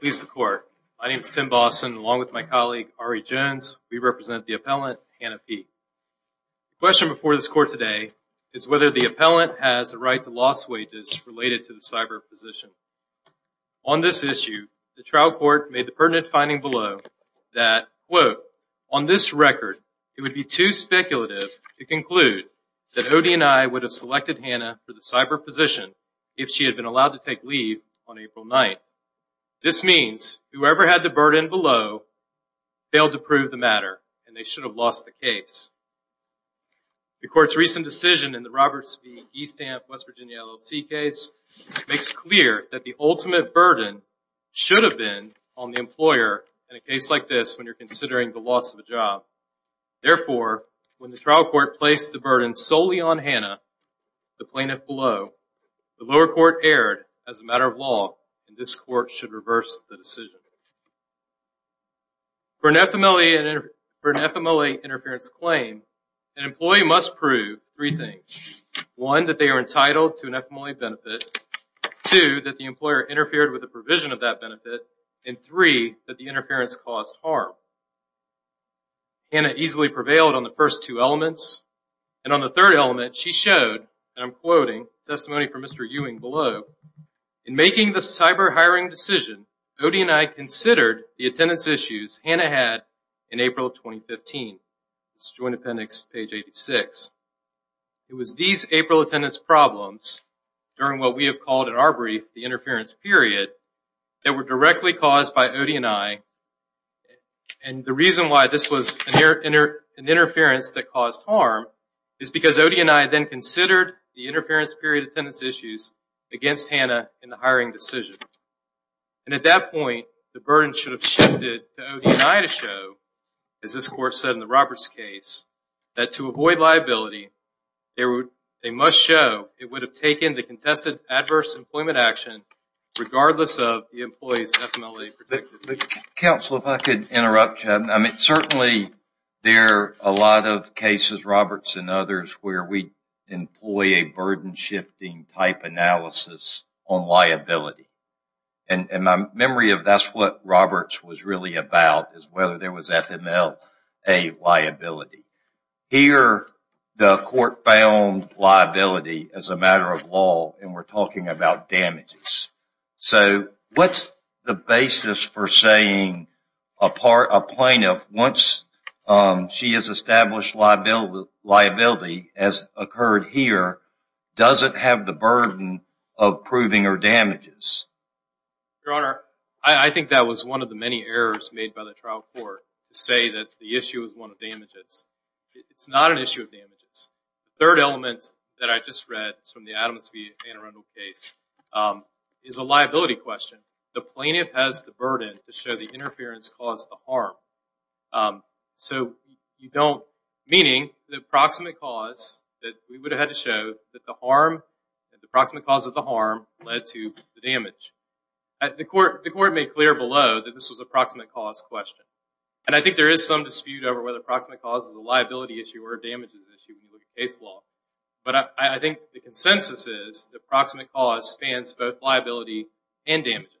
The question before this court today is whether the appellant has a right to loss wages related to the cyber position. On this issue, the trial court made the pertinent finding below that, quote, on this record, it would be too speculative to conclude that Odie and I would have selected Hannah for the cyber position if she had been allowed to take leave on April 9th. This means whoever had the burden below failed to prove the matter and they should have lost the case. The court's recent decision in the Roberts v. Eastam West Virginia LLC case makes clear that the ultimate burden should have been on the employer in a case like this when you're Therefore, when the trial court placed the burden solely on Hannah, the plaintiff below, the lower court erred as a matter of law and this court should reverse the decision. For an FMLA interference claim, an employee must prove three things. One, that they are entitled to an FMLA benefit. Two, that the employer interfered with the provision of that benefit. And three, that the interference caused harm. Hannah easily prevailed on the first two elements. And on the third element, she showed, and I'm quoting, testimony from Mr. Ewing below, in making the cyber hiring decision, Odie and I considered the attendance issues Hannah had in April 2015. It's Joint Appendix, page 86. It was these April attendance problems, during what we have called in our brief, the interference period, that were directly caused by Odie and I. And the reason why this was an interference that caused harm is because Odie and I then considered the interference period attendance issues against Hannah in the hiring decision. And at that point, the burden should have shifted to Odie and I to show, as this court said in the Roberts case, that to avoid liability, they must show it would have taken the contested adverse employment action, regardless of the employee's FMLA predicted. Counsel, if I could interrupt you. I mean, certainly there are a lot of cases, Roberts and others, where we employ a burden shifting type analysis on liability. And my memory of that's what Roberts was really about, is whether there was FMLA liability. Here, the court found liability as a matter of law, and we're talking about damages. So what's the basis for saying a plaintiff, once she has established liability, as occurred here, doesn't have the burden of proving her damages? Your Honor, I think that was one of the many errors made by the trial court, to say that the issue is one of damages. It's not an issue of damages. Third element that I just read from the Adams v. Anne Arundel case is a liability question. The plaintiff has the burden to show the interference caused the harm. So you don't, meaning, the approximate cause that we would have had to show that the harm, the approximate cause of the harm, led to the damage. The court made clear below that this was an approximate cause question. And I think there is some dispute over whether the approximate cause is a liability issue or a damages issue when you look at case law. But I think the consensus is the approximate cause spans both liability and damages.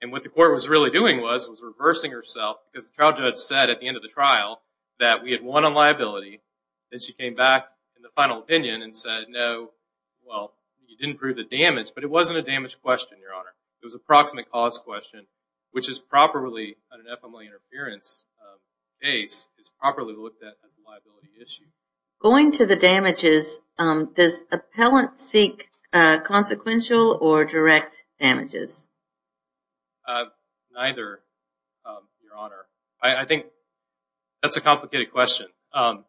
And what the court was really doing was, was reversing herself, because the trial judge said at the end of the trial that we had won on liability, then she came back in the final opinion and said, no, well, you didn't prove the damage, but it wasn't a damage question, Your Honor. It was an approximate cause question, which is properly, under FMLA interference, is properly looked at as a liability issue. Going to the damages, does appellant seek consequential or direct damages? Neither, Your Honor. I think that's a complicated question. Well,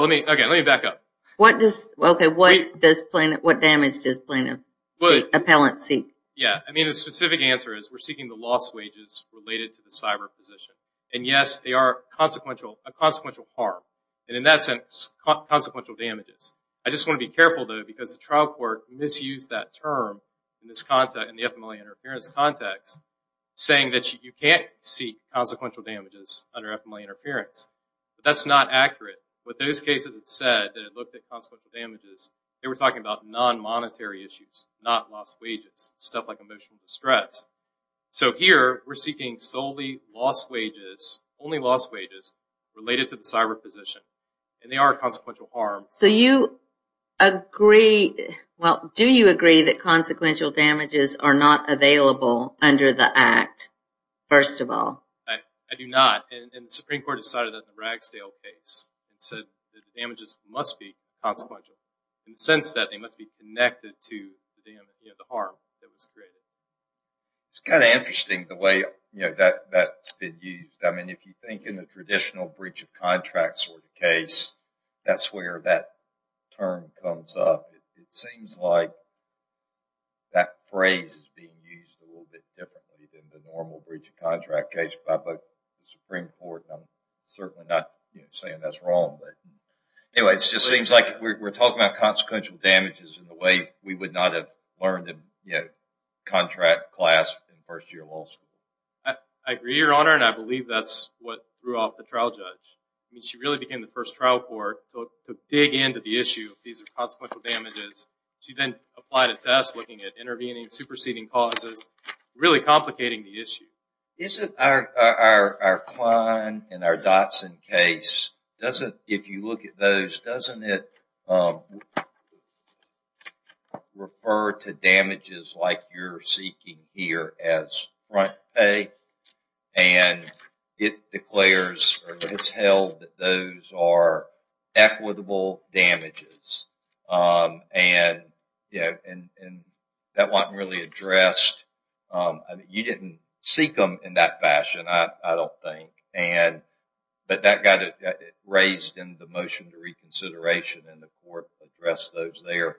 let me, again, let me back up. What does, okay, what does plaintiff, what damage does plaintiff? Appellant seek? Yeah, I mean, the specific answer is we're seeking the lost wages related to the cyber position. And yes, they are consequential, a consequential harm, and in that sense, consequential damages. I just want to be careful, though, because the trial court misused that term in this context, in the FMLA interference context, saying that you can't seek consequential damages under FMLA interference. But that's not accurate. With those cases it said that it looked at consequential damages, they were talking about non-monetary issues, not lost wages, stuff like emotional distress. So here, we're seeking solely lost wages, only lost wages, related to the cyber position. And they are a consequential harm. So you agree, well, do you agree that consequential damages are not available under the Act, first of all? I do not. And the Supreme Court decided that in the Ragsdale case, it said that damages must be consequential. And since that, they must be connected to the harm that was created. It's kind of interesting, the way that's been used. I mean, if you think in the traditional breach of contract sort of case, that's where that term comes up. It seems like that phrase is being used a little bit differently than the normal breach of contract case by both the Supreme Court, and I'm certainly not saying that's wrong. Anyway, it just seems like we're talking about consequential damages in a way we would not have learned in contract class in first year law school. I agree, Your Honor, and I believe that's what threw off the trial judge. I mean, she really became the first trial court to dig into the issue of these consequential damages. She then applied a test looking at intervening, superseding causes, really complicating the issue. Isn't our Klein and our Dotson case, doesn't, if you look at those, doesn't it refer to damages like you're seeking here as front pay? And it declares or it's held that those are equitable damages. And that wasn't really addressed. You didn't seek them in that fashion, I don't think, but that got raised in the motion to reconsideration and the court addressed those there.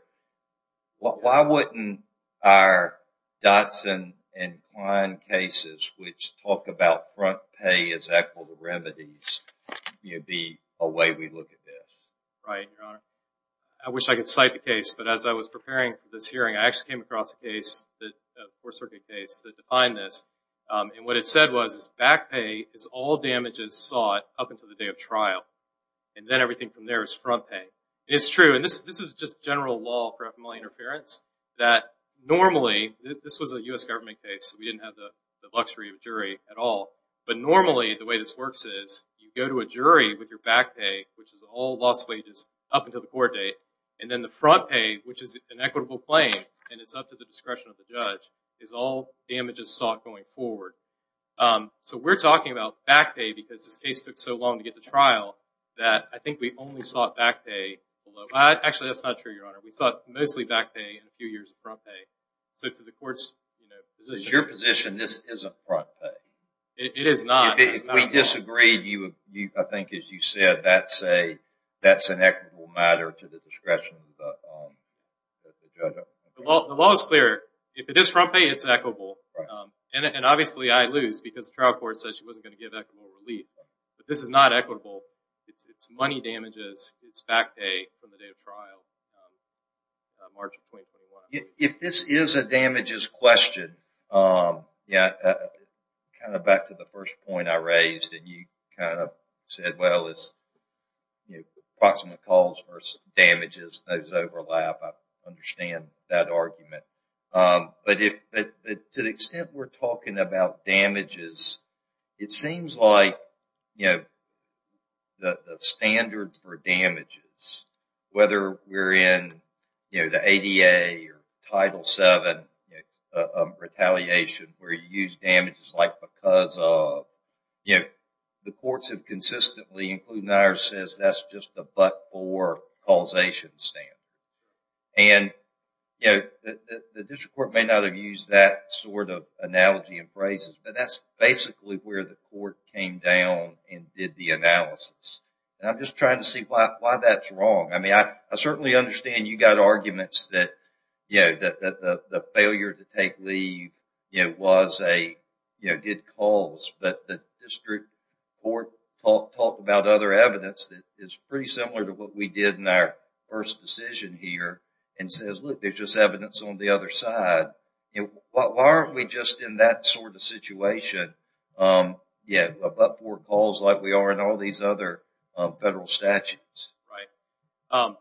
Why wouldn't our Dotson and Klein cases, which talk about front pay as equitable remedies, be a way we look at this? Right, Your Honor. I wish I could cite the case, but as I was preparing for this hearing, I actually came across a case, a court-circuit case, that defined this. And what it said was back pay is all damages sought up until the day of trial, and then everything from there is front pay. It's true, and this is just general law for FMLA interference, that normally, this was a U.S. government case, so we didn't have the luxury of a jury at all, but normally the way this works is, you go to a jury with your back pay, which is all lost wages, up until the court date, and then the front pay, which is an equitable claim, and it's up to the discretion of the judge, is all damages sought going forward. So we're talking about back pay because this case took so long to get to trial that I think we only sought back pay. Actually, that's not true, Your Honor. We sought mostly back pay and a few years of front pay. Is your position this isn't front pay? It is not. If we disagreed, I think as you said, that's an equitable matter to the discretion of the judge. The law is clear. If it is front pay, it's equitable. And obviously I lose because the trial court said she wasn't going to give equitable relief. But this is not equitable. It's money damages, it's back pay from the day of trial. If this is a damages question, kind of back to the first point I raised, and you kind of said, well, it's approximate calls versus damages, those overlap. I understand that argument. But to the extent we're talking about damages, it seems like the standard for damages, whether we're in the ADA or Title VII retaliation where you use damages like because of. The courts have consistently, including ours, said that's just a but-for causation stand. And the district court may not have used that sort of analogy and phrases, but that's basically where the court came down and did the analysis. And I'm just trying to see why that's wrong. I mean, I certainly understand you got arguments that the failure to take leave was a good cause. But the district court talked about other evidence that is pretty similar to what we did in our first decision here and says, look, there's just evidence on the other side. Why aren't we just in that sort of situation? Yeah, a but-for cause like we are in all these other federal statutes. Right.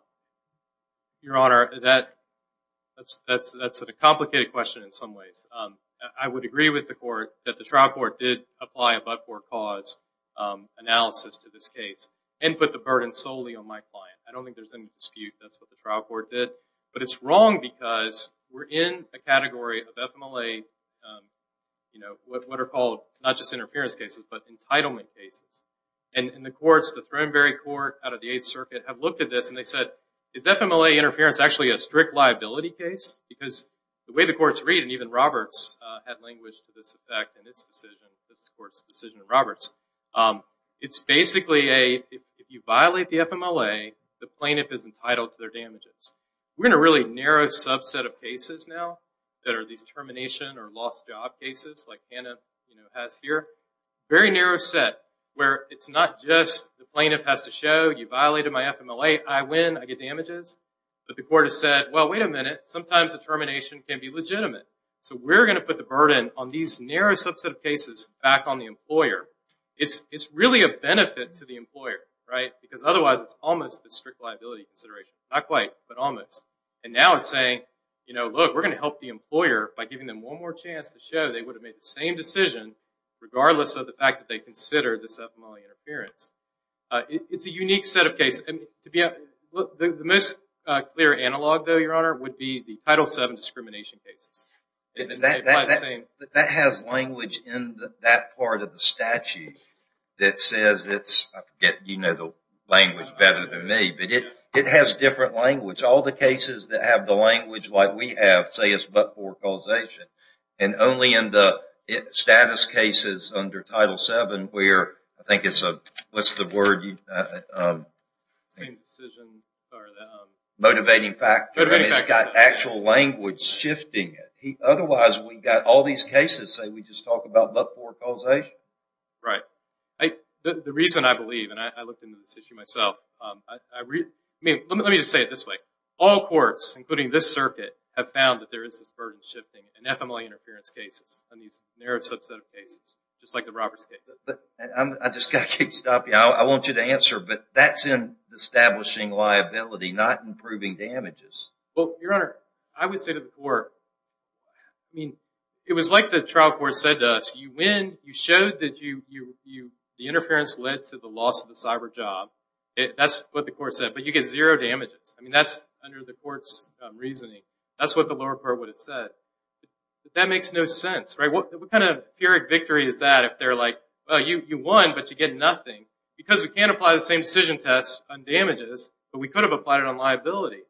Your Honor, that's a complicated question in some ways. I would agree with the court that the trial court did apply a but-for cause analysis to this case and put the burden solely on my client. I don't think there's any dispute that's what the trial court did. But it's wrong because we're in a category of FMLA, what are called not just interference cases, but entitlement cases. And the courts, the Thornberry Court out of the Eighth Circuit, have looked at this and they said, is FMLA interference actually a strict liability case? Because the way the courts read, and even Roberts had language to this effect in this decision, this court's decision of Roberts, it's basically if you violate the FMLA, the plaintiff is entitled to their damages. We're in a really narrow subset of cases now that are these termination or lost job cases, like Hannah has here. Very narrow set where it's not just the plaintiff has to show, you violated my FMLA, I win, I get damages. But the court has said, well, wait a minute, sometimes a termination can be legitimate. So we're going to put the burden on these narrow subset of cases back on the employer. It's really a benefit to the employer, right? Because otherwise it's almost a strict liability consideration. Not quite, but almost. And now it's saying, you know, look, we're going to help the employer by giving them one more chance to show they would have made the same decision regardless of the fact that they considered this FMLA interference. It's a unique set of cases. The most clear analog, though, Your Honor, would be the Title VII discrimination cases. That has language in that part of the statute that says it's, I forget, you know the language better than me, but it has different language. All the cases that have the language like we have say it's but for causation. And only in the status cases under Title VII where I think it's a, what's the word? Same decision. Motivating factor. It's got actual language shifting it. Otherwise we've got all these cases say we just talk about but for causation. Right. The reason I believe, and I looked into this issue myself, I mean, let me just say it this way. All courts, including this circuit, have found that there is this burden shifting in FMLA interference cases on these narrow subset of cases, just like the Roberts case. I just got to keep stopping you. I want you to answer, but that's in establishing liability, not improving damages. Well, Your Honor, I would say to the court, I mean, it was like the trial court said to us. You win. You showed that the interference led to the loss of the cyber job. That's what the court said. But you get zero damages. I mean, that's under the court's reasoning. That's what the lower court would have said. But that makes no sense, right? What kind of theoric victory is that if they're like, well, you won, but you get nothing? Because we can't apply the same decision test on damages, but we could have applied it on liability.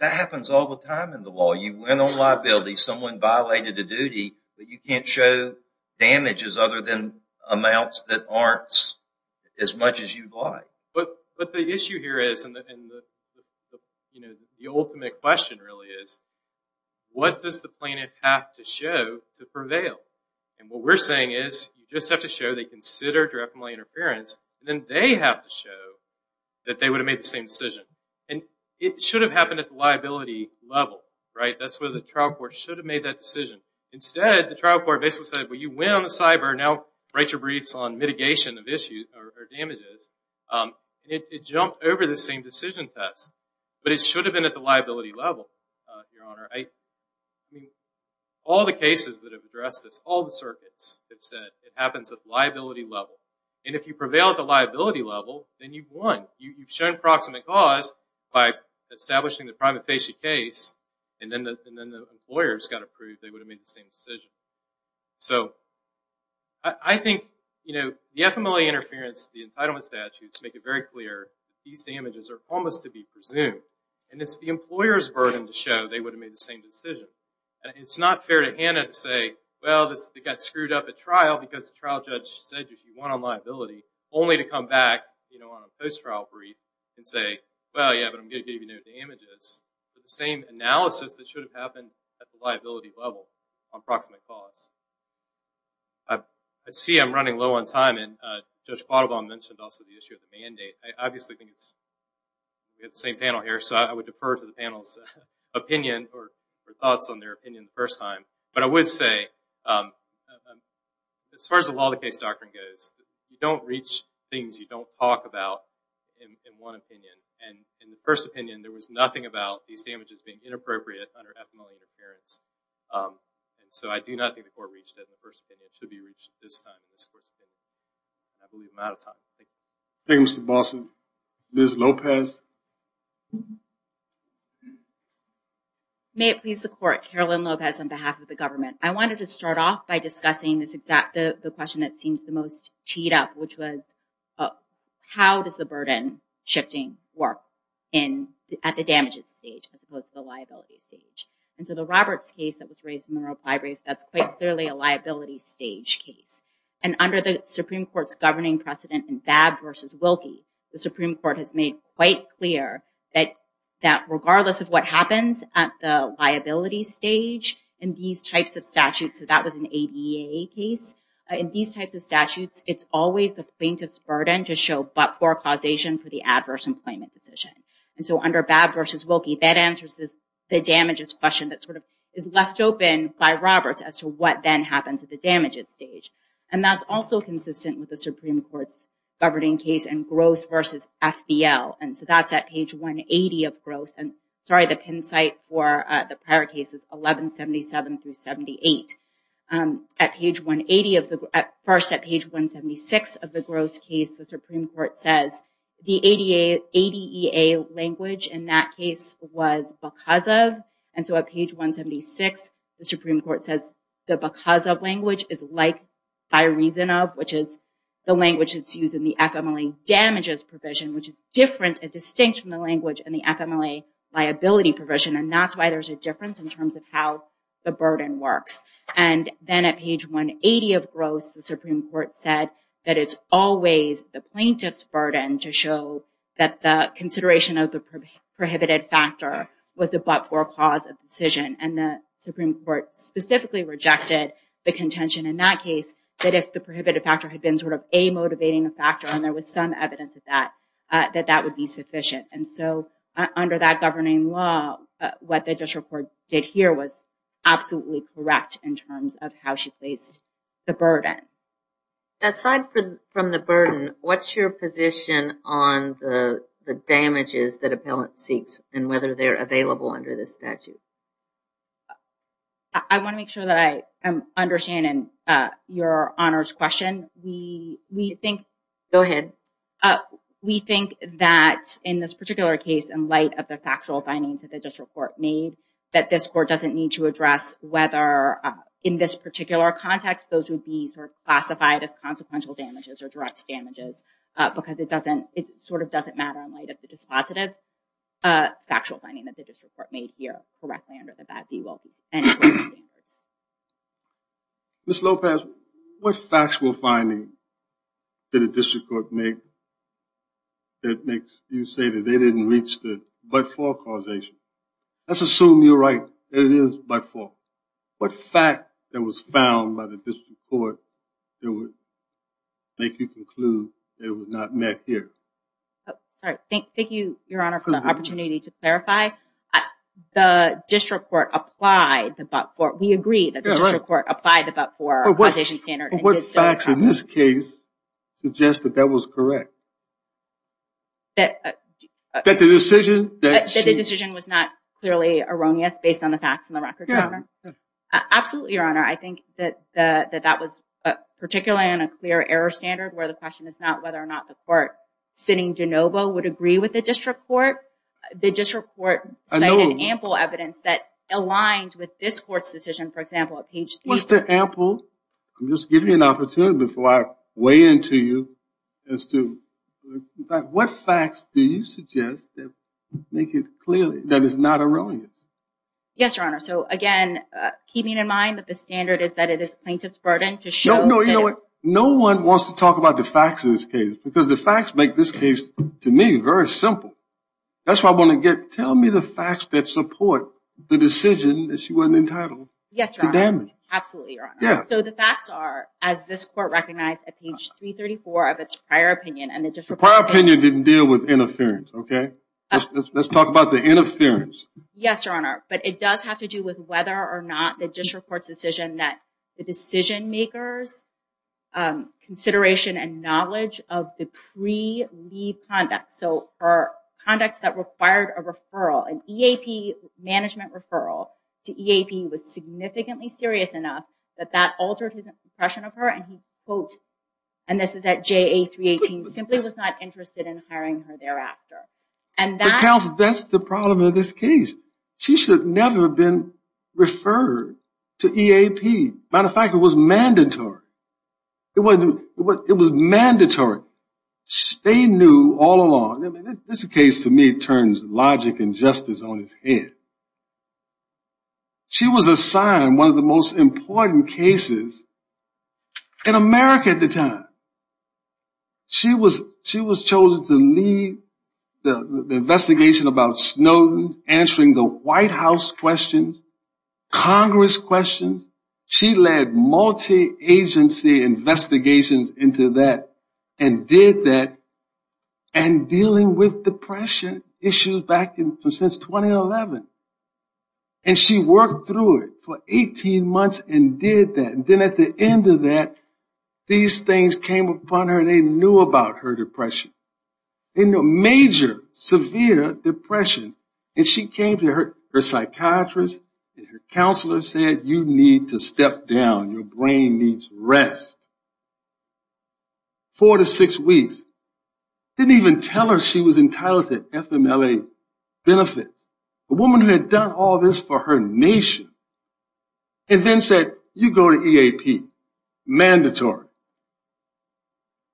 That happens all the time in the law. You win on liability. Someone violated a duty, but you can't show damages other than amounts that aren't as much as you'd like. But the issue here is, and the ultimate question really is, what does the plaintiff have to show to prevail? And what we're saying is, you just have to show they considered your FMLA interference, and then they have to show that they would have made the same decision. And it should have happened at the liability level, right? That's where the trial court should have made that decision. Instead, the trial court basically said, well, you win on the cyber. Now write your briefs on mitigation of issues or damages. It jumped over the same decision test. But it should have been at the liability level, Your Honor. All the cases that have addressed this, all the circuits have said it happens at the liability level. And if you prevail at the liability level, then you've won. You've shown proximate cause by establishing the prima facie case, and then the employers got to prove they would have made the same decision. So I think the FMLA interference, the entitlement statutes make it very clear these damages are almost to be presumed. And it's the employer's burden to show they would have made the same decision. And it's not fair to Hannah to say, well, this got screwed up at trial because the trial judge said you won on liability, only to come back on a post-trial brief and say, well, yeah, but I'm going to give you no damages. It's the same analysis that should have happened at the liability level on proximate cause. I see I'm running low on time, and Judge Quattlebaum mentioned also the issue of the mandate. I obviously think it's the same panel here, so I would defer to the panel's opinion or thoughts on their opinion the first time. But I would say, as far as the law of the case doctrine goes, you don't reach things you don't talk about in one opinion. And in the first opinion, there was nothing about these damages being inappropriate under FMLA interference. And so I do not think the court reached that in the first opinion. It should be reached this time in this court's opinion. I believe I'm out of time. Thank you. Thank you, Mr. Boston. Ms. Lopez? May it please the Court, Carolyn Lopez on behalf of the government. I wanted to start off by discussing the question that seems the most teed up, which was, how does the burden-shifting work at the damages stage as opposed to the liability stage? And so the Roberts case that was raised in the Monroe Ply Brief, that's quite clearly a liability stage case. And under the Supreme Court's governing precedent in Babb v. Wilkie, the Supreme Court has made quite clear that regardless of what happens at the liability stage in these types of statutes, so that was an ADA case, in these types of statutes, it's always the plaintiff's burden to show but-for causation for the adverse employment decision. And so under Babb v. Wilkie, that answers the damages question that sort of is left open by Roberts as to what then happens at the damages stage. And that's also consistent with the Supreme Court's governing case in Gross v. FBL. And so that's at page 180 of Gross. And sorry, the pin site for the prior case is 1177-78. At page 180 of the, first at page 176 of the Gross case, the Supreme Court says, the ADEA language in that case was because of. And so at page 176, the Supreme Court says the because of language is like by reason of, which is the language that's used in the FMLA damages provision, which is different and distinct from the language in the FMLA liability provision. And that's why there's a difference in terms of how the burden works. And then at page 180 of Gross, the Supreme Court said that it's always the plaintiff's burden to show that the consideration of the prohibited factor was a but-for cause of decision. And the Supreme Court specifically rejected the contention in that case that if the prohibited factor had been sort of a motivating factor, and there was some evidence of that, that that would be sufficient. And so under that governing law, what the district court did here was absolutely correct in terms of how she placed the burden. Aside from the burden, what's your position on the damages that appellant seeks and whether they're available under this statute? I want to make sure that I am understanding your honors question. Go ahead. We think that in this particular case, in light of the factual findings that the district court made, that this court doesn't need to address whether, in this particular context, those would be sort of classified as consequential damages or direct damages because it sort of doesn't matter in light of the dispositive factual finding that the district court made here correctly under the BAD-D-WILD-B standards. Ms. Lopez, what factual finding did the district court make that makes you say that they didn't reach the but-for causation? Let's assume you're right. It is but-for. What fact that was found by the district court that would make you conclude it was not met here? Sorry. Thank you, Your Honor, for the opportunity to clarify. The district court applied the but-for. We agree that the district court applied the but-for causation standard. But what facts in this case suggest that that was correct? That the decision was not clearly erroneous based on the facts in the record, Your Honor? Absolutely, Your Honor. I think that that was particularly on a clear error standard where the question is not whether or not the court sitting de novo would agree with the district court. The district court cited ample evidence that aligned with this court's decision, for example, at page 3. What's the ample? I'm just giving you an opportunity before I weigh into you as to what facts do you suggest that make it clear that it's not erroneous? Yes, Your Honor. So, again, keeping in mind that the standard is that it is plaintiff's burden to show that it is. No, no, you know what? No one wants to talk about the facts in this case because the facts make this case, to me, very simple. That's what I want to get. Tell me the facts that support the decision that she wasn't entitled to damage. Yes, Your Honor. Absolutely, Your Honor. Yeah. So the facts are, as this court recognized at page 334 of its prior opinion. The prior opinion didn't deal with interference, okay? Let's talk about the interference. Yes, Your Honor. But it does have to do with whether or not the district court's decision that the decision makers' consideration and knowledge of the pre-leave conduct, so her conduct that required a referral, an EAP management referral to EAP was significantly serious enough that that altered his impression of her, and he, quote, and this is at JA 318, simply was not interested in hiring her thereafter. But, counsel, that's the problem in this case. She should have never been referred to EAP. Matter of fact, it was mandatory. It was mandatory. They knew all along. This case, to me, turns logic and justice on its head. She was assigned one of the most important cases in America at the time. She was chosen to lead the investigation about Snowden, answering the White House questions, Congress questions. She led multi-agency investigations into that and did that, and dealing with depression issues back since 2011. And she worked through it for 18 months and did that. And then at the end of that, these things came upon her. They knew about her depression, major, severe depression. And she came to her psychiatrist and her counselor and said, you need to step down. Your brain needs rest. Four to six weeks. Didn't even tell her she was entitled to FMLA benefits. A woman who had done all this for her nation and then said, you go to EAP. Mandatory.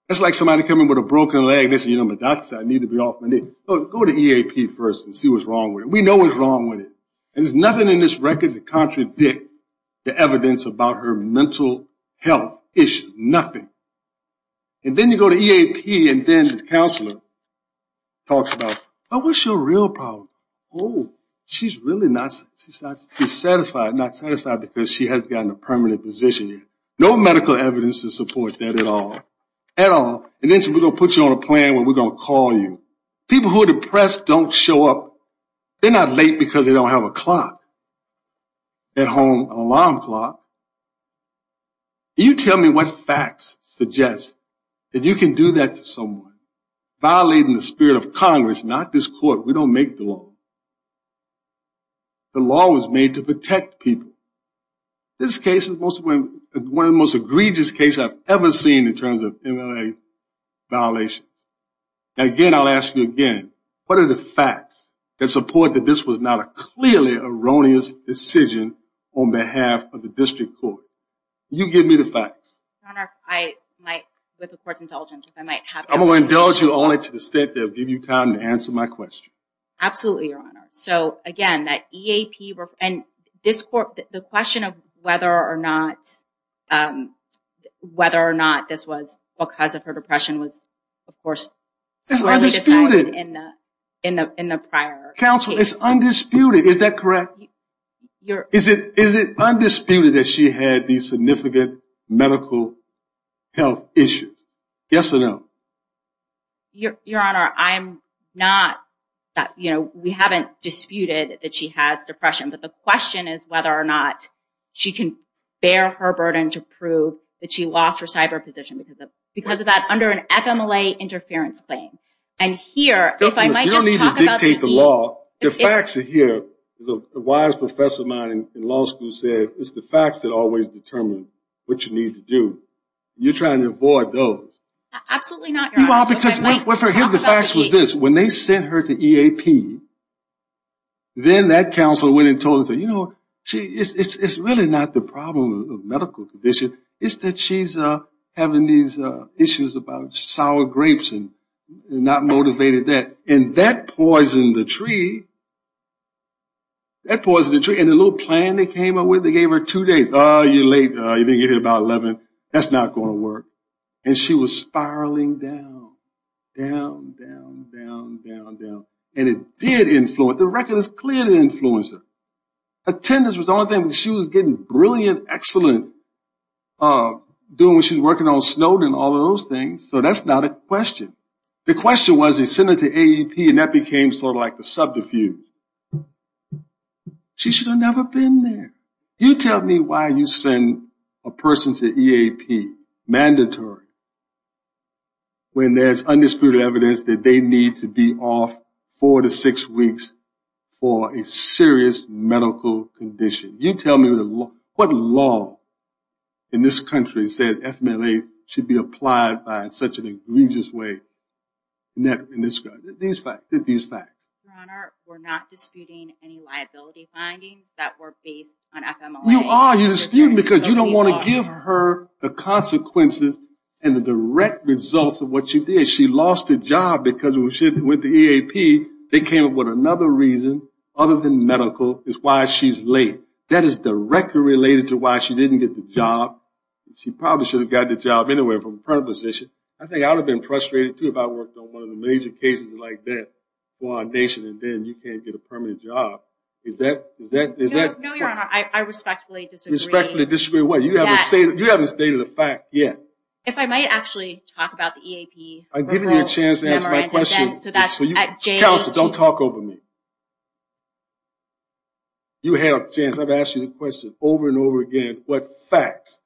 That's like somebody coming with a broken leg and saying, you know, my doctor said I need to be off my knee. Go to EAP first and see what's wrong with it. We know what's wrong with it. And there's nothing in this record to contradict the evidence about her mental health issue. Nothing. And then you go to EAP and then the counselor talks about, oh, what's your real problem? Oh, she's really not satisfied because she hasn't gotten a permanent position yet. No medical evidence to support that at all. And then she said, we're going to put you on a plan where we're going to call you. People who are depressed don't show up. They're not late because they don't have a clock at home, an alarm clock. Can you tell me what facts suggest that you can do that to someone? Violating the spirit of Congress, not this court. We don't make the law. The law was made to protect people. This case is one of the most egregious cases I've ever seen in terms of MLA violations. Again, I'll ask you again. What are the facts that support that this was not a clearly erroneous decision on behalf of the district court? You give me the facts. Your Honor, I might, with the court's indulgence, if I might have it. I'm going to indulge you only to the extent that it will give you time to answer my question. Absolutely, Your Honor. So, again, the question of whether or not this was because of her depression was, of course, clearly decided in the prior case. It's undisputed. Is that correct? Is it undisputed that she had these significant medical health issues? Yes or no? Your Honor, I'm not, you know, we haven't disputed that she has depression. But the question is whether or not she can bear her burden to prove that she lost her cyber position because of that under an FMLA interference claim. And here, if I might just talk about the facts here. A wise professor of mine in law school said it's the facts that always determine what you need to do. You're trying to avoid those. Absolutely not, Your Honor. Well, for him, the facts was this. When they sent her to EAP, then that counselor went and told her, you know, it's really not the problem of medical condition. It's that she's having these issues about sour grapes and not motivated that. And that poisoned the tree. That poisoned the tree. And the little plan they came up with, they gave her two days. Oh, you're late. You didn't get here by 11. That's not going to work. And she was spiraling down, down, down, down, down, down. And it did influence her. The record is clear that it influenced her. Attendance was the only thing. She was getting brilliant, excellent, doing what she was working on, Snowden, all of those things. So that's not a question. The question was they sent her to AEP, and that became sort of like the subterfuge. She should have never been there. You tell me why you send a person to EAP, mandatory, when there's undisputed evidence that they need to be off four to six weeks for a serious medical condition. You tell me what law in this country said FMLA should be applied by in such an egregious way in this country. These facts. Your Honor, we're not disputing any liability findings that were based on FMLA. You are. You're disputing because you don't want to give her the consequences and the direct results of what you did. She lost a job because she went to EAP. They came up with another reason, other than medical, is why she's late. That is directly related to why she didn't get the job. She probably should have gotten the job anyway from a current position. I think I would have been frustrated, too, if I worked on one of the major cases like that for our nation, and then you can't get a permanent job. Is that correct? No, Your Honor. I respectfully disagree. Respectfully disagree with what? You haven't stated a fact yet. If I might actually talk about the EAP. I've given you a chance to answer my question. Counsel, don't talk over me. You had a chance. I've asked you the question over and over again. What facts?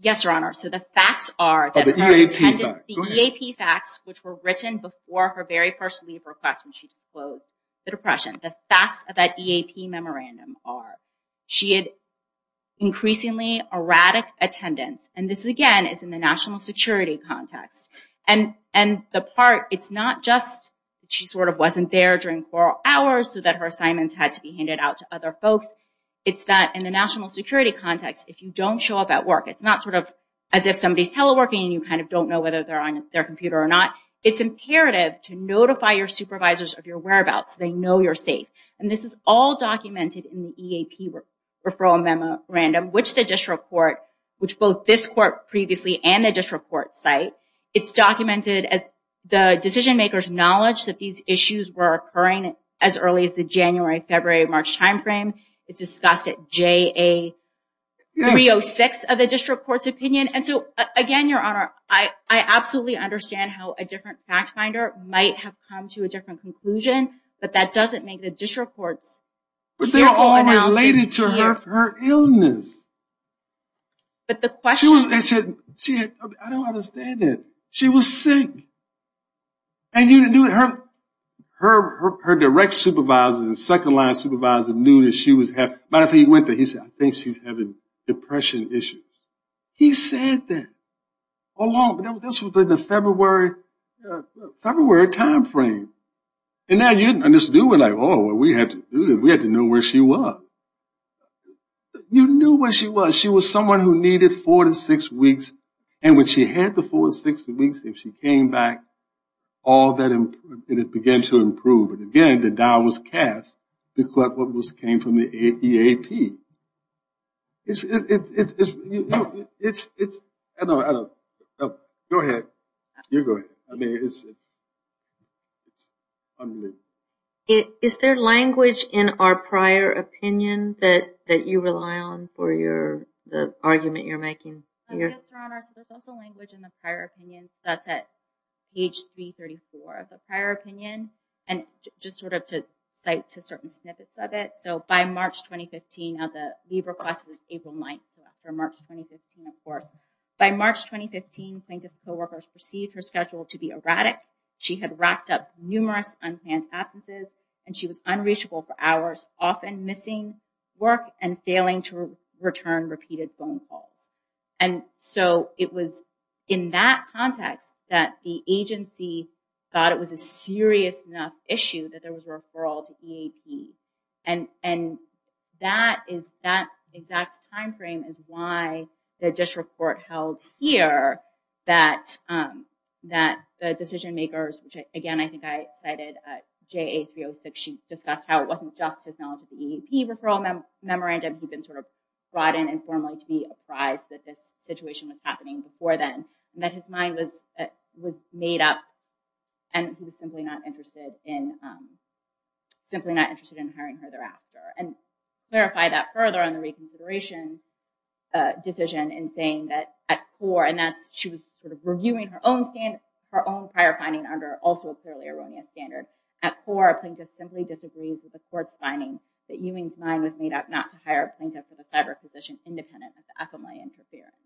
Yes, Your Honor. So the facts are that her attendance. Oh, the EAP facts. Go ahead. The EAP facts, which were written before her very first leave request when she declosed the depression. The facts of that EAP memorandum are she had increasingly erratic attendance, and this, again, is in the national security context. And the part, it's not just she sort of wasn't there during four hours so that her assignments had to be handed out to other folks. It's that in the national security context, if you don't show up at work, it's not sort of as if somebody's teleworking and you kind of don't know whether they're on their computer or not. It's imperative to notify your supervisors of your whereabouts so they know you're safe. And this is all documented in the EAP referral memorandum, which the district court, which both this court previously and the district court cite, it's documented as the decision-makers' knowledge that these issues were occurring as early as the January, February, March time frame. It's discussed at JA 306 of the district court's opinion. And so, again, Your Honor, I absolutely understand how a different fact finder might have come to a different conclusion, but that doesn't make the district court's beautiful analysis clear. But they're all related to her illness. But the question is. I don't understand it. She was sick. And you knew that her direct supervisor, the second-line supervisor, knew that she was having, right after he went there, he said, I think she's having depression issues. He said that all along. But this was in the February time frame. And now you just knew. We're like, oh, we have to know where she was. You knew where she was. She was someone who needed four to six weeks. And when she had the four to six weeks, if she came back, all that began to improve. And, again, the dial was cast to collect what came from the EAP. I don't know. Go ahead. You go ahead. I mean, it's unbelievable. Is there language in our prior opinion that you rely on for the argument you're making? Yes, Your Honor. So there's also language in the prior opinion. That's at page 334 of the prior opinion. And just sort of to cite to certain snippets of it. So by March 2015, now the leave request was April 9th, so after March 2015, of course. By March 2015, plaintiff's co-workers perceived her schedule to be erratic. She had racked up numerous unplanned absences, and she was unreachable for hours, often missing work and failing to return repeated phone calls. And so it was in that context that the agency thought it was a serious enough issue that there was a referral to EAP. And that exact time frame is why the district court held here that the decision makers, which again I think I cited JA306, she discussed how it wasn't just his knowledge of the EAP referral memorandum. He'd been sort of brought in informally to be apprised that this situation was happening before then. And that his mind was made up, and he was simply not interested in hiring her thereafter. And clarify that further on the reconsideration decision in saying that at core, and that's she was reviewing her own prior finding under also a clearly erroneous standard. At core, a plaintiff simply disagrees with the court's finding that Ewing's mind was made up not to hire a plaintiff with a federal position independent of the FLA interference.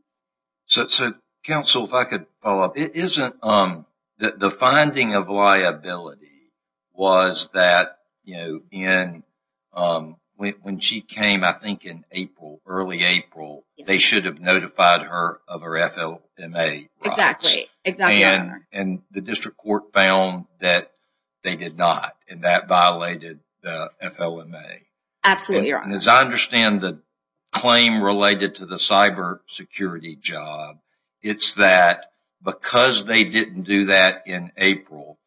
So counsel, if I could follow up. The finding of liability was that when she came I think in April, early April, they should have notified her of her FLMA rights. Exactly. And the district court found that they did not, and that violated the FLMA. Absolutely right. And as I understand the claim related to the cyber security job, it's that because they didn't do that in April,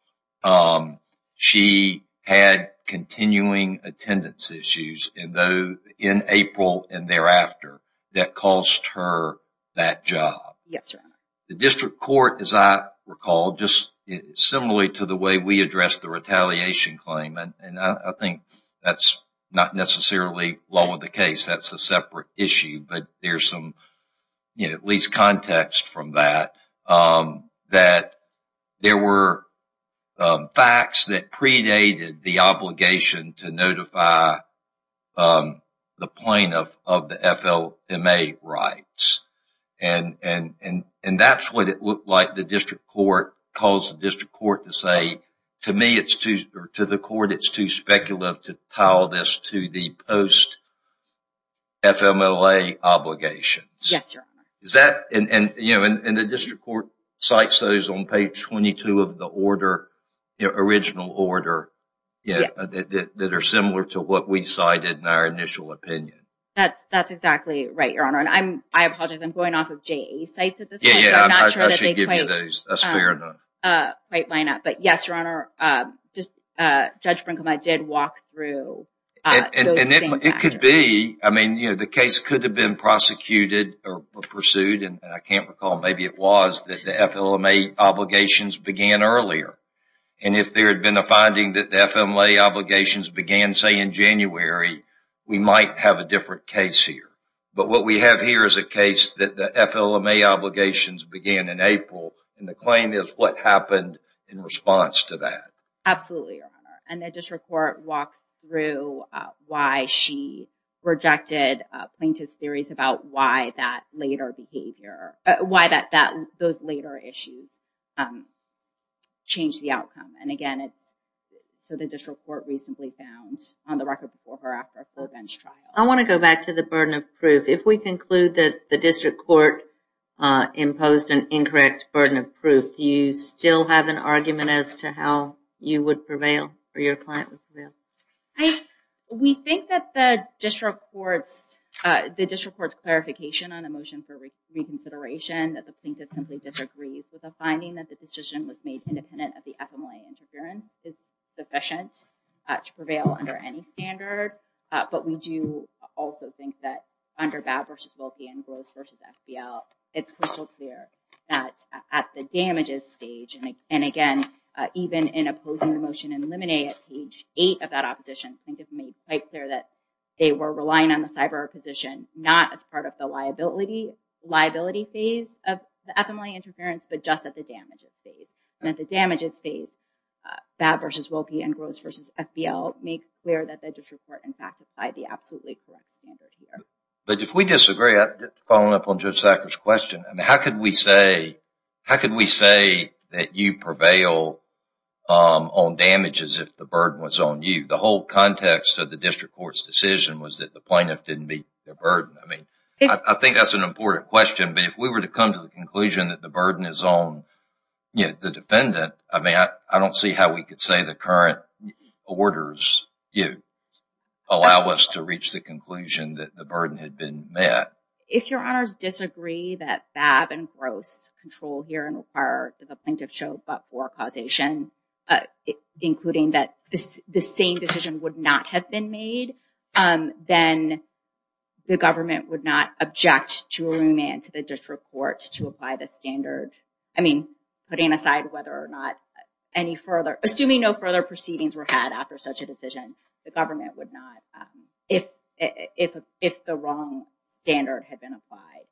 she had continuing attendance issues in April and thereafter that caused her that job. Yes, Your Honor. The district court, as I recall, just similarly to the way we addressed the retaliation claim, and I think that's not necessarily law of the case, that's a separate issue, but there's some at least context from that, that there were facts that predated the obligation to notify the plaintiff of the FLMA rights. And that's what it looked like the district court caused the district court to say, to me, to the court, it's too speculative to tie all this to the post-FLMA obligations. Yes, Your Honor. And the district court cites those on page 22 of the original order that are similar to what we cited in our initial opinion. That's exactly right, Your Honor. And I apologize, I'm going off of JA's sites at this point, so I'm not sure that they quite line up. But yes, Your Honor, Judge Brinkley and I did walk through those same factors. It could be, I mean, the case could have been prosecuted or pursued, and I can't recall, maybe it was, that the FLMA obligations began earlier. And if there had been a finding that the FLMA obligations began, say, in January, we might have a different case here. But what we have here is a case that the FLMA obligations began in April, and the claim is what happened in response to that. Absolutely, Your Honor. And the district court walks through why she rejected plaintiff's theories about why that later behavior, why those later issues changed the outcome. And, again, so the district court recently found on the record before or after Ferguson's trial. I want to go back to the burden of proof. If we conclude that the district court imposed an incorrect burden of proof, do you still have an argument as to how you would prevail or your client would prevail? We think that the district court's clarification on a motion for reconsideration, that the plaintiff simply disagrees with the finding that the decision was made independent of the FLMA interference, is sufficient to prevail under any standard. But we do also think that under Babb v. Wilkie and Gross v. FBL, it's crystal clear that at the damages stage, and, again, even in opposing the motion in limine at page 8 of that opposition, plaintiff made quite clear that they were relying on the cyber position, not as part of the liability phase of the FLMA interference, but just at the damages phase. And at the damages phase, Babb v. Wilkie and Gross v. FBL make clear that the district court, in fact, is by the absolutely correct standard here. But if we disagree, following up on Judge Sackler's question, how could we say that you prevail on damages if the burden was on you? The whole context of the district court's decision was that the plaintiff didn't meet their burden. I think that's an important question, but if we were to come to the conclusion that the burden is on the defendant, I mean, I don't see how we could say the current orders allow us to reach the conclusion that the burden had been met. If your honors disagree that Babb and Gross control here and require the plaintiff show but-for causation, including that the same decision would not have been made, then the government would not object to remand to the district court to apply the standard. I mean, putting aside whether or not any further – assuming no further proceedings were had after such a decision, the government would not – if the wrong standard had been applied,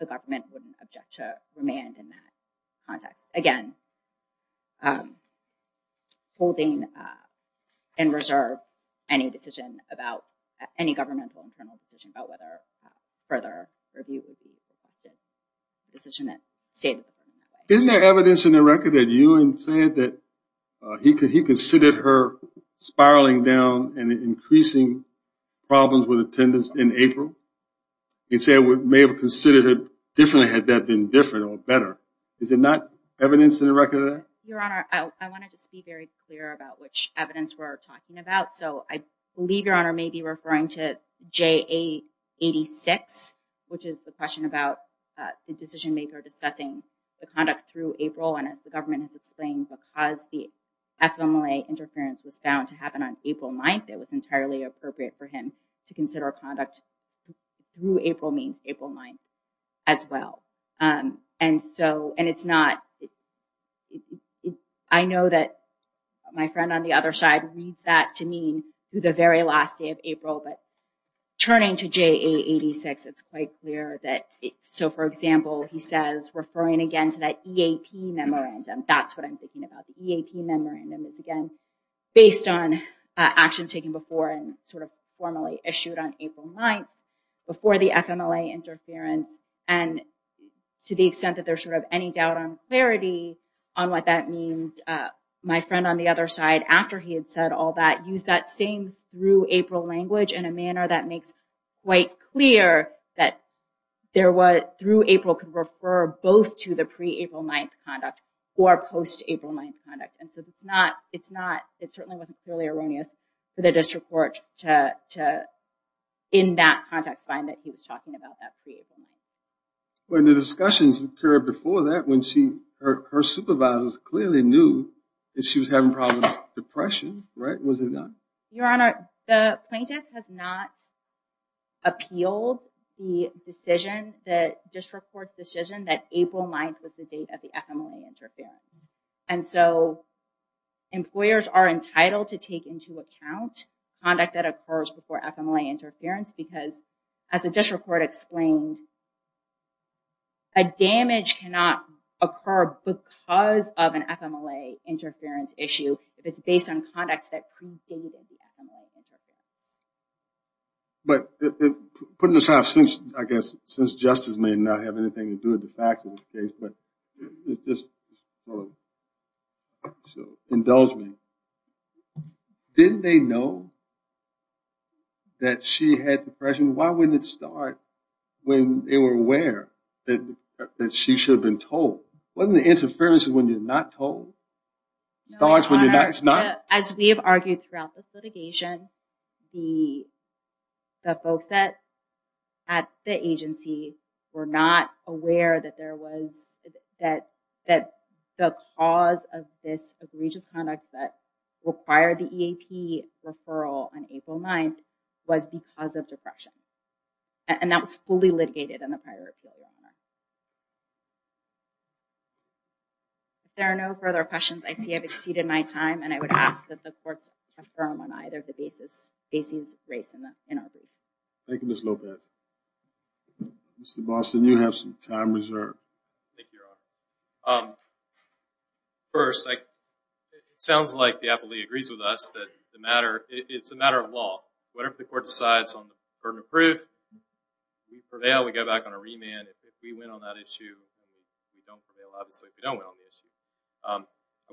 the government wouldn't object to remand in that context. Again, holding in reserve any decision about – Isn't there evidence in the record that Ewan said that he considered her spiraling down and increasing problems with attendance in April? He said he may have considered it differently had that been different or better. Is there not evidence in the record of that? Your honor, I want to just be very clear about which evidence we're talking about. So I believe your honor may be referring to JA-86, which is the question about the decision-maker discussing the conduct through April, and as the government has explained, because the FMLA interference was found to happen on April 9th, it was entirely appropriate for him to consider conduct through April means April 9th as well. And so – and it's not – I know that my friend on the other side reads that to mean through the very last day of April, but turning to JA-86, it's quite clear that – So, for example, he says, referring again to that EAP memorandum, that's what I'm thinking about. The EAP memorandum is, again, based on actions taken before and sort of formally issued on April 9th before the FMLA interference. And to the extent that there's sort of any doubt on clarity on what that means, my friend on the other side, after he had said all that, used that same through April language in a manner that makes quite clear that through April could refer both to the pre-April 9th conduct or post-April 9th conduct. And so it's not – it certainly wasn't clearly erroneous for the district court to, in that context, find that he was talking about that pre-April 9th. Well, and the discussions occurred before that when her supervisors clearly knew that she was having problems with depression, right? Was it not? Your Honor, the plaintiff has not appealed the decision, the district court's decision that April 9th was the date of the FMLA interference. And so employers are entitled to take into account conduct that occurs before FMLA interference because, as the district court explained, a damage cannot occur because of an FMLA interference issue if it's based on conduct that predated the FMLA interference. But putting this out, I guess, since justice may not have anything to do with the fact of the case, but it's just sort of an indulgement. Didn't they know that she had depression? Why wouldn't it start when they were aware that she should have been told? Wasn't the interference when you're not told? It starts when you're not – it's not – As we have argued throughout this litigation, the folks at the agency were not aware that there was – that the cause of this egregious conduct that required the EAP referral on April 9th was because of depression. And that was fully litigated in the prior appeal, Your Honor. If there are no further questions, I see I've exceeded my time, and I would ask that the courts affirm on either of the bases raised in our brief. Thank you, Ms. Lopez. Mr. Boston, you have some time reserved. Thank you, Your Honor. First, it sounds like the appellee agrees with us that it's a matter of law. Whatever the court decides on the burden of proof, we prevail, we go back on a remand. If we win on that issue, we don't prevail. Obviously, if we don't win on the issue.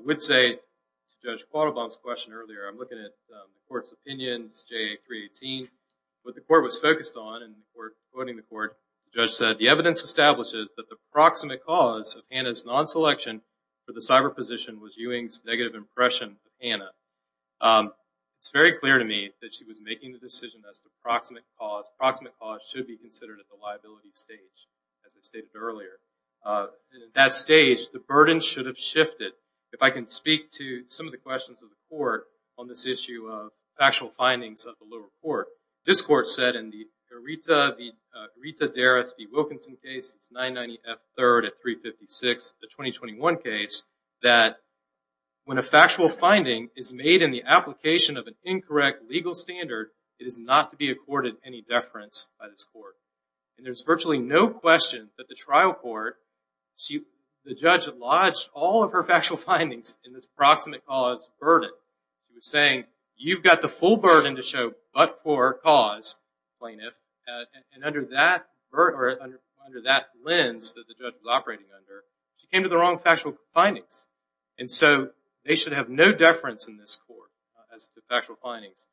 I would say, to Judge Quattlebaum's question earlier, I'm looking at the court's opinions, J.A. 318. What the court was focused on, and before quoting the court, the judge said, the evidence establishes that the proximate cause of Hanna's non-selection for the cyber position was Ewing's negative impression of Hanna. It's very clear to me that she was making the decision as to the proximate cause. The proximate cause should be considered at the liability stage, as I stated earlier. At that stage, the burden should have shifted. If I can speak to some of the questions of the court on this issue of factual findings of the lower court, this court said in the Rita Derris v. Wilkinson case, 990 F. 3rd at 356, the 2021 case, that when a factual finding is made in the application of an incorrect legal standard, it is not to be accorded any deference by this court. And there's virtually no question that the trial court, the judge lodged all of her factual findings in this proximate cause burden. She was saying, you've got the full burden to show but for cause, plaintiff, and under that lens that the judge was operating under, she came to the wrong factual findings. And so they should have no deference in this court as to factual findings.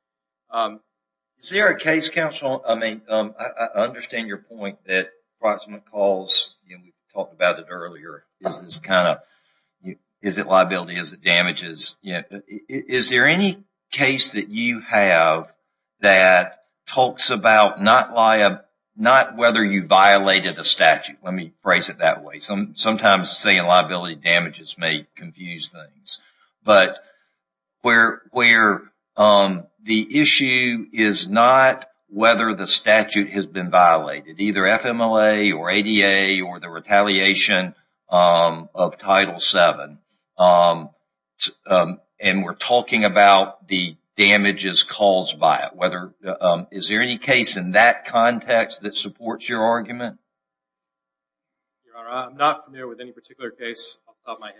Is there a case, counsel, I mean, I understand your point that proximate cause, and we talked about it earlier, is this kind of, is it liability, is it damages? Is there any case that you have that talks about not whether you violated a statute? Let me phrase it that way. Sometimes saying liability damages may confuse things. But where the issue is not whether the statute has been violated, either FMLA or ADA or the retaliation of Title VII. And we're talking about the damages caused by it. Is there any case in that context that supports your argument? I'm not familiar with any particular case off the top of my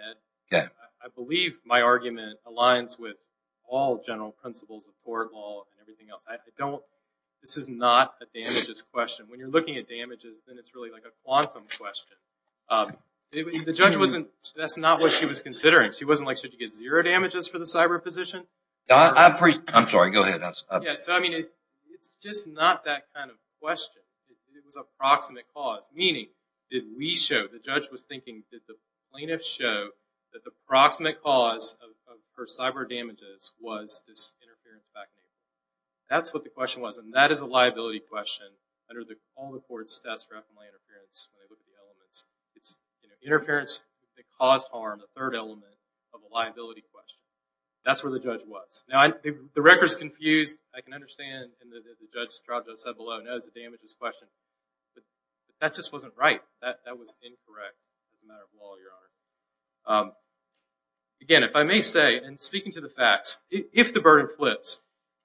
head. I believe my argument aligns with all general principles of court law and everything else. I don't, this is not a damages question. When you're looking at damages, then it's really like a quantum question. The judge wasn't, that's not what she was considering. She wasn't like, should you get zero damages for the cyber position? I'm sorry, go ahead. Yeah, so I mean, it's just not that kind of question. Did the plaintiff show that the proximate cause for cyber damages was this interference background? That's what the question was. And that is a liability question under the common court status for FMLA interference. It's interference that caused harm, the third element of a liability question. That's where the judge was. Now, the record's confused. I can understand that the judge's trial judge said below, no, it's a damages question. But that just wasn't right. That was incorrect, as a matter of law, Your Honor. Again, if I may say, and speaking to the facts, if the burden flips,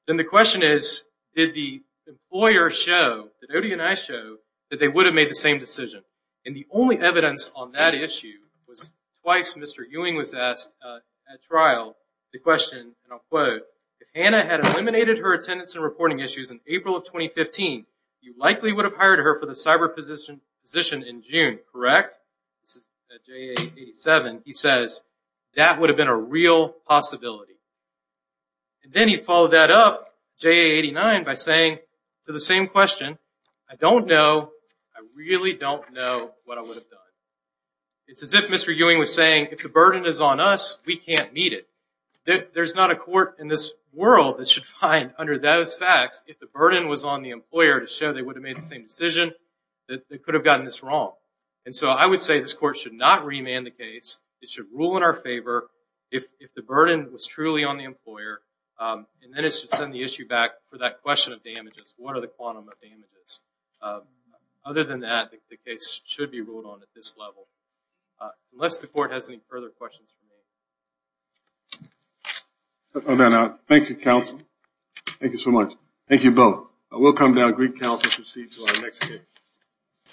then the question is, did the employer show, did Odie and I show, that they would have made the same decision? And the only evidence on that issue was twice Mr. Ewing was asked at trial the question, and I'll quote, if Hannah had eliminated her attendance and reporting issues in April of 2015, you likely would have hired her for the cyber position in June, correct? This is at JA 87. He says, that would have been a real possibility. And then he followed that up, JA 89, by saying, for the same question, I don't know, I really don't know what I would have done. It's as if Mr. Ewing was saying, if the burden is on us, we can't meet it. There's not a court in this world that should find, under those facts, if the burden was on the employer to show they would have made the same decision, that they could have gotten this wrong. And so I would say this court should not remand the case. It should rule in our favor if the burden was truly on the employer, and then it should send the issue back for that question of damages. What are the quantum of damages? Other than that, the case should be ruled on at this level. Unless the court has any further questions for me. Thank you, counsel. Thank you so much. Thank you both. We'll come down, Greek counsel, to proceed to our next case.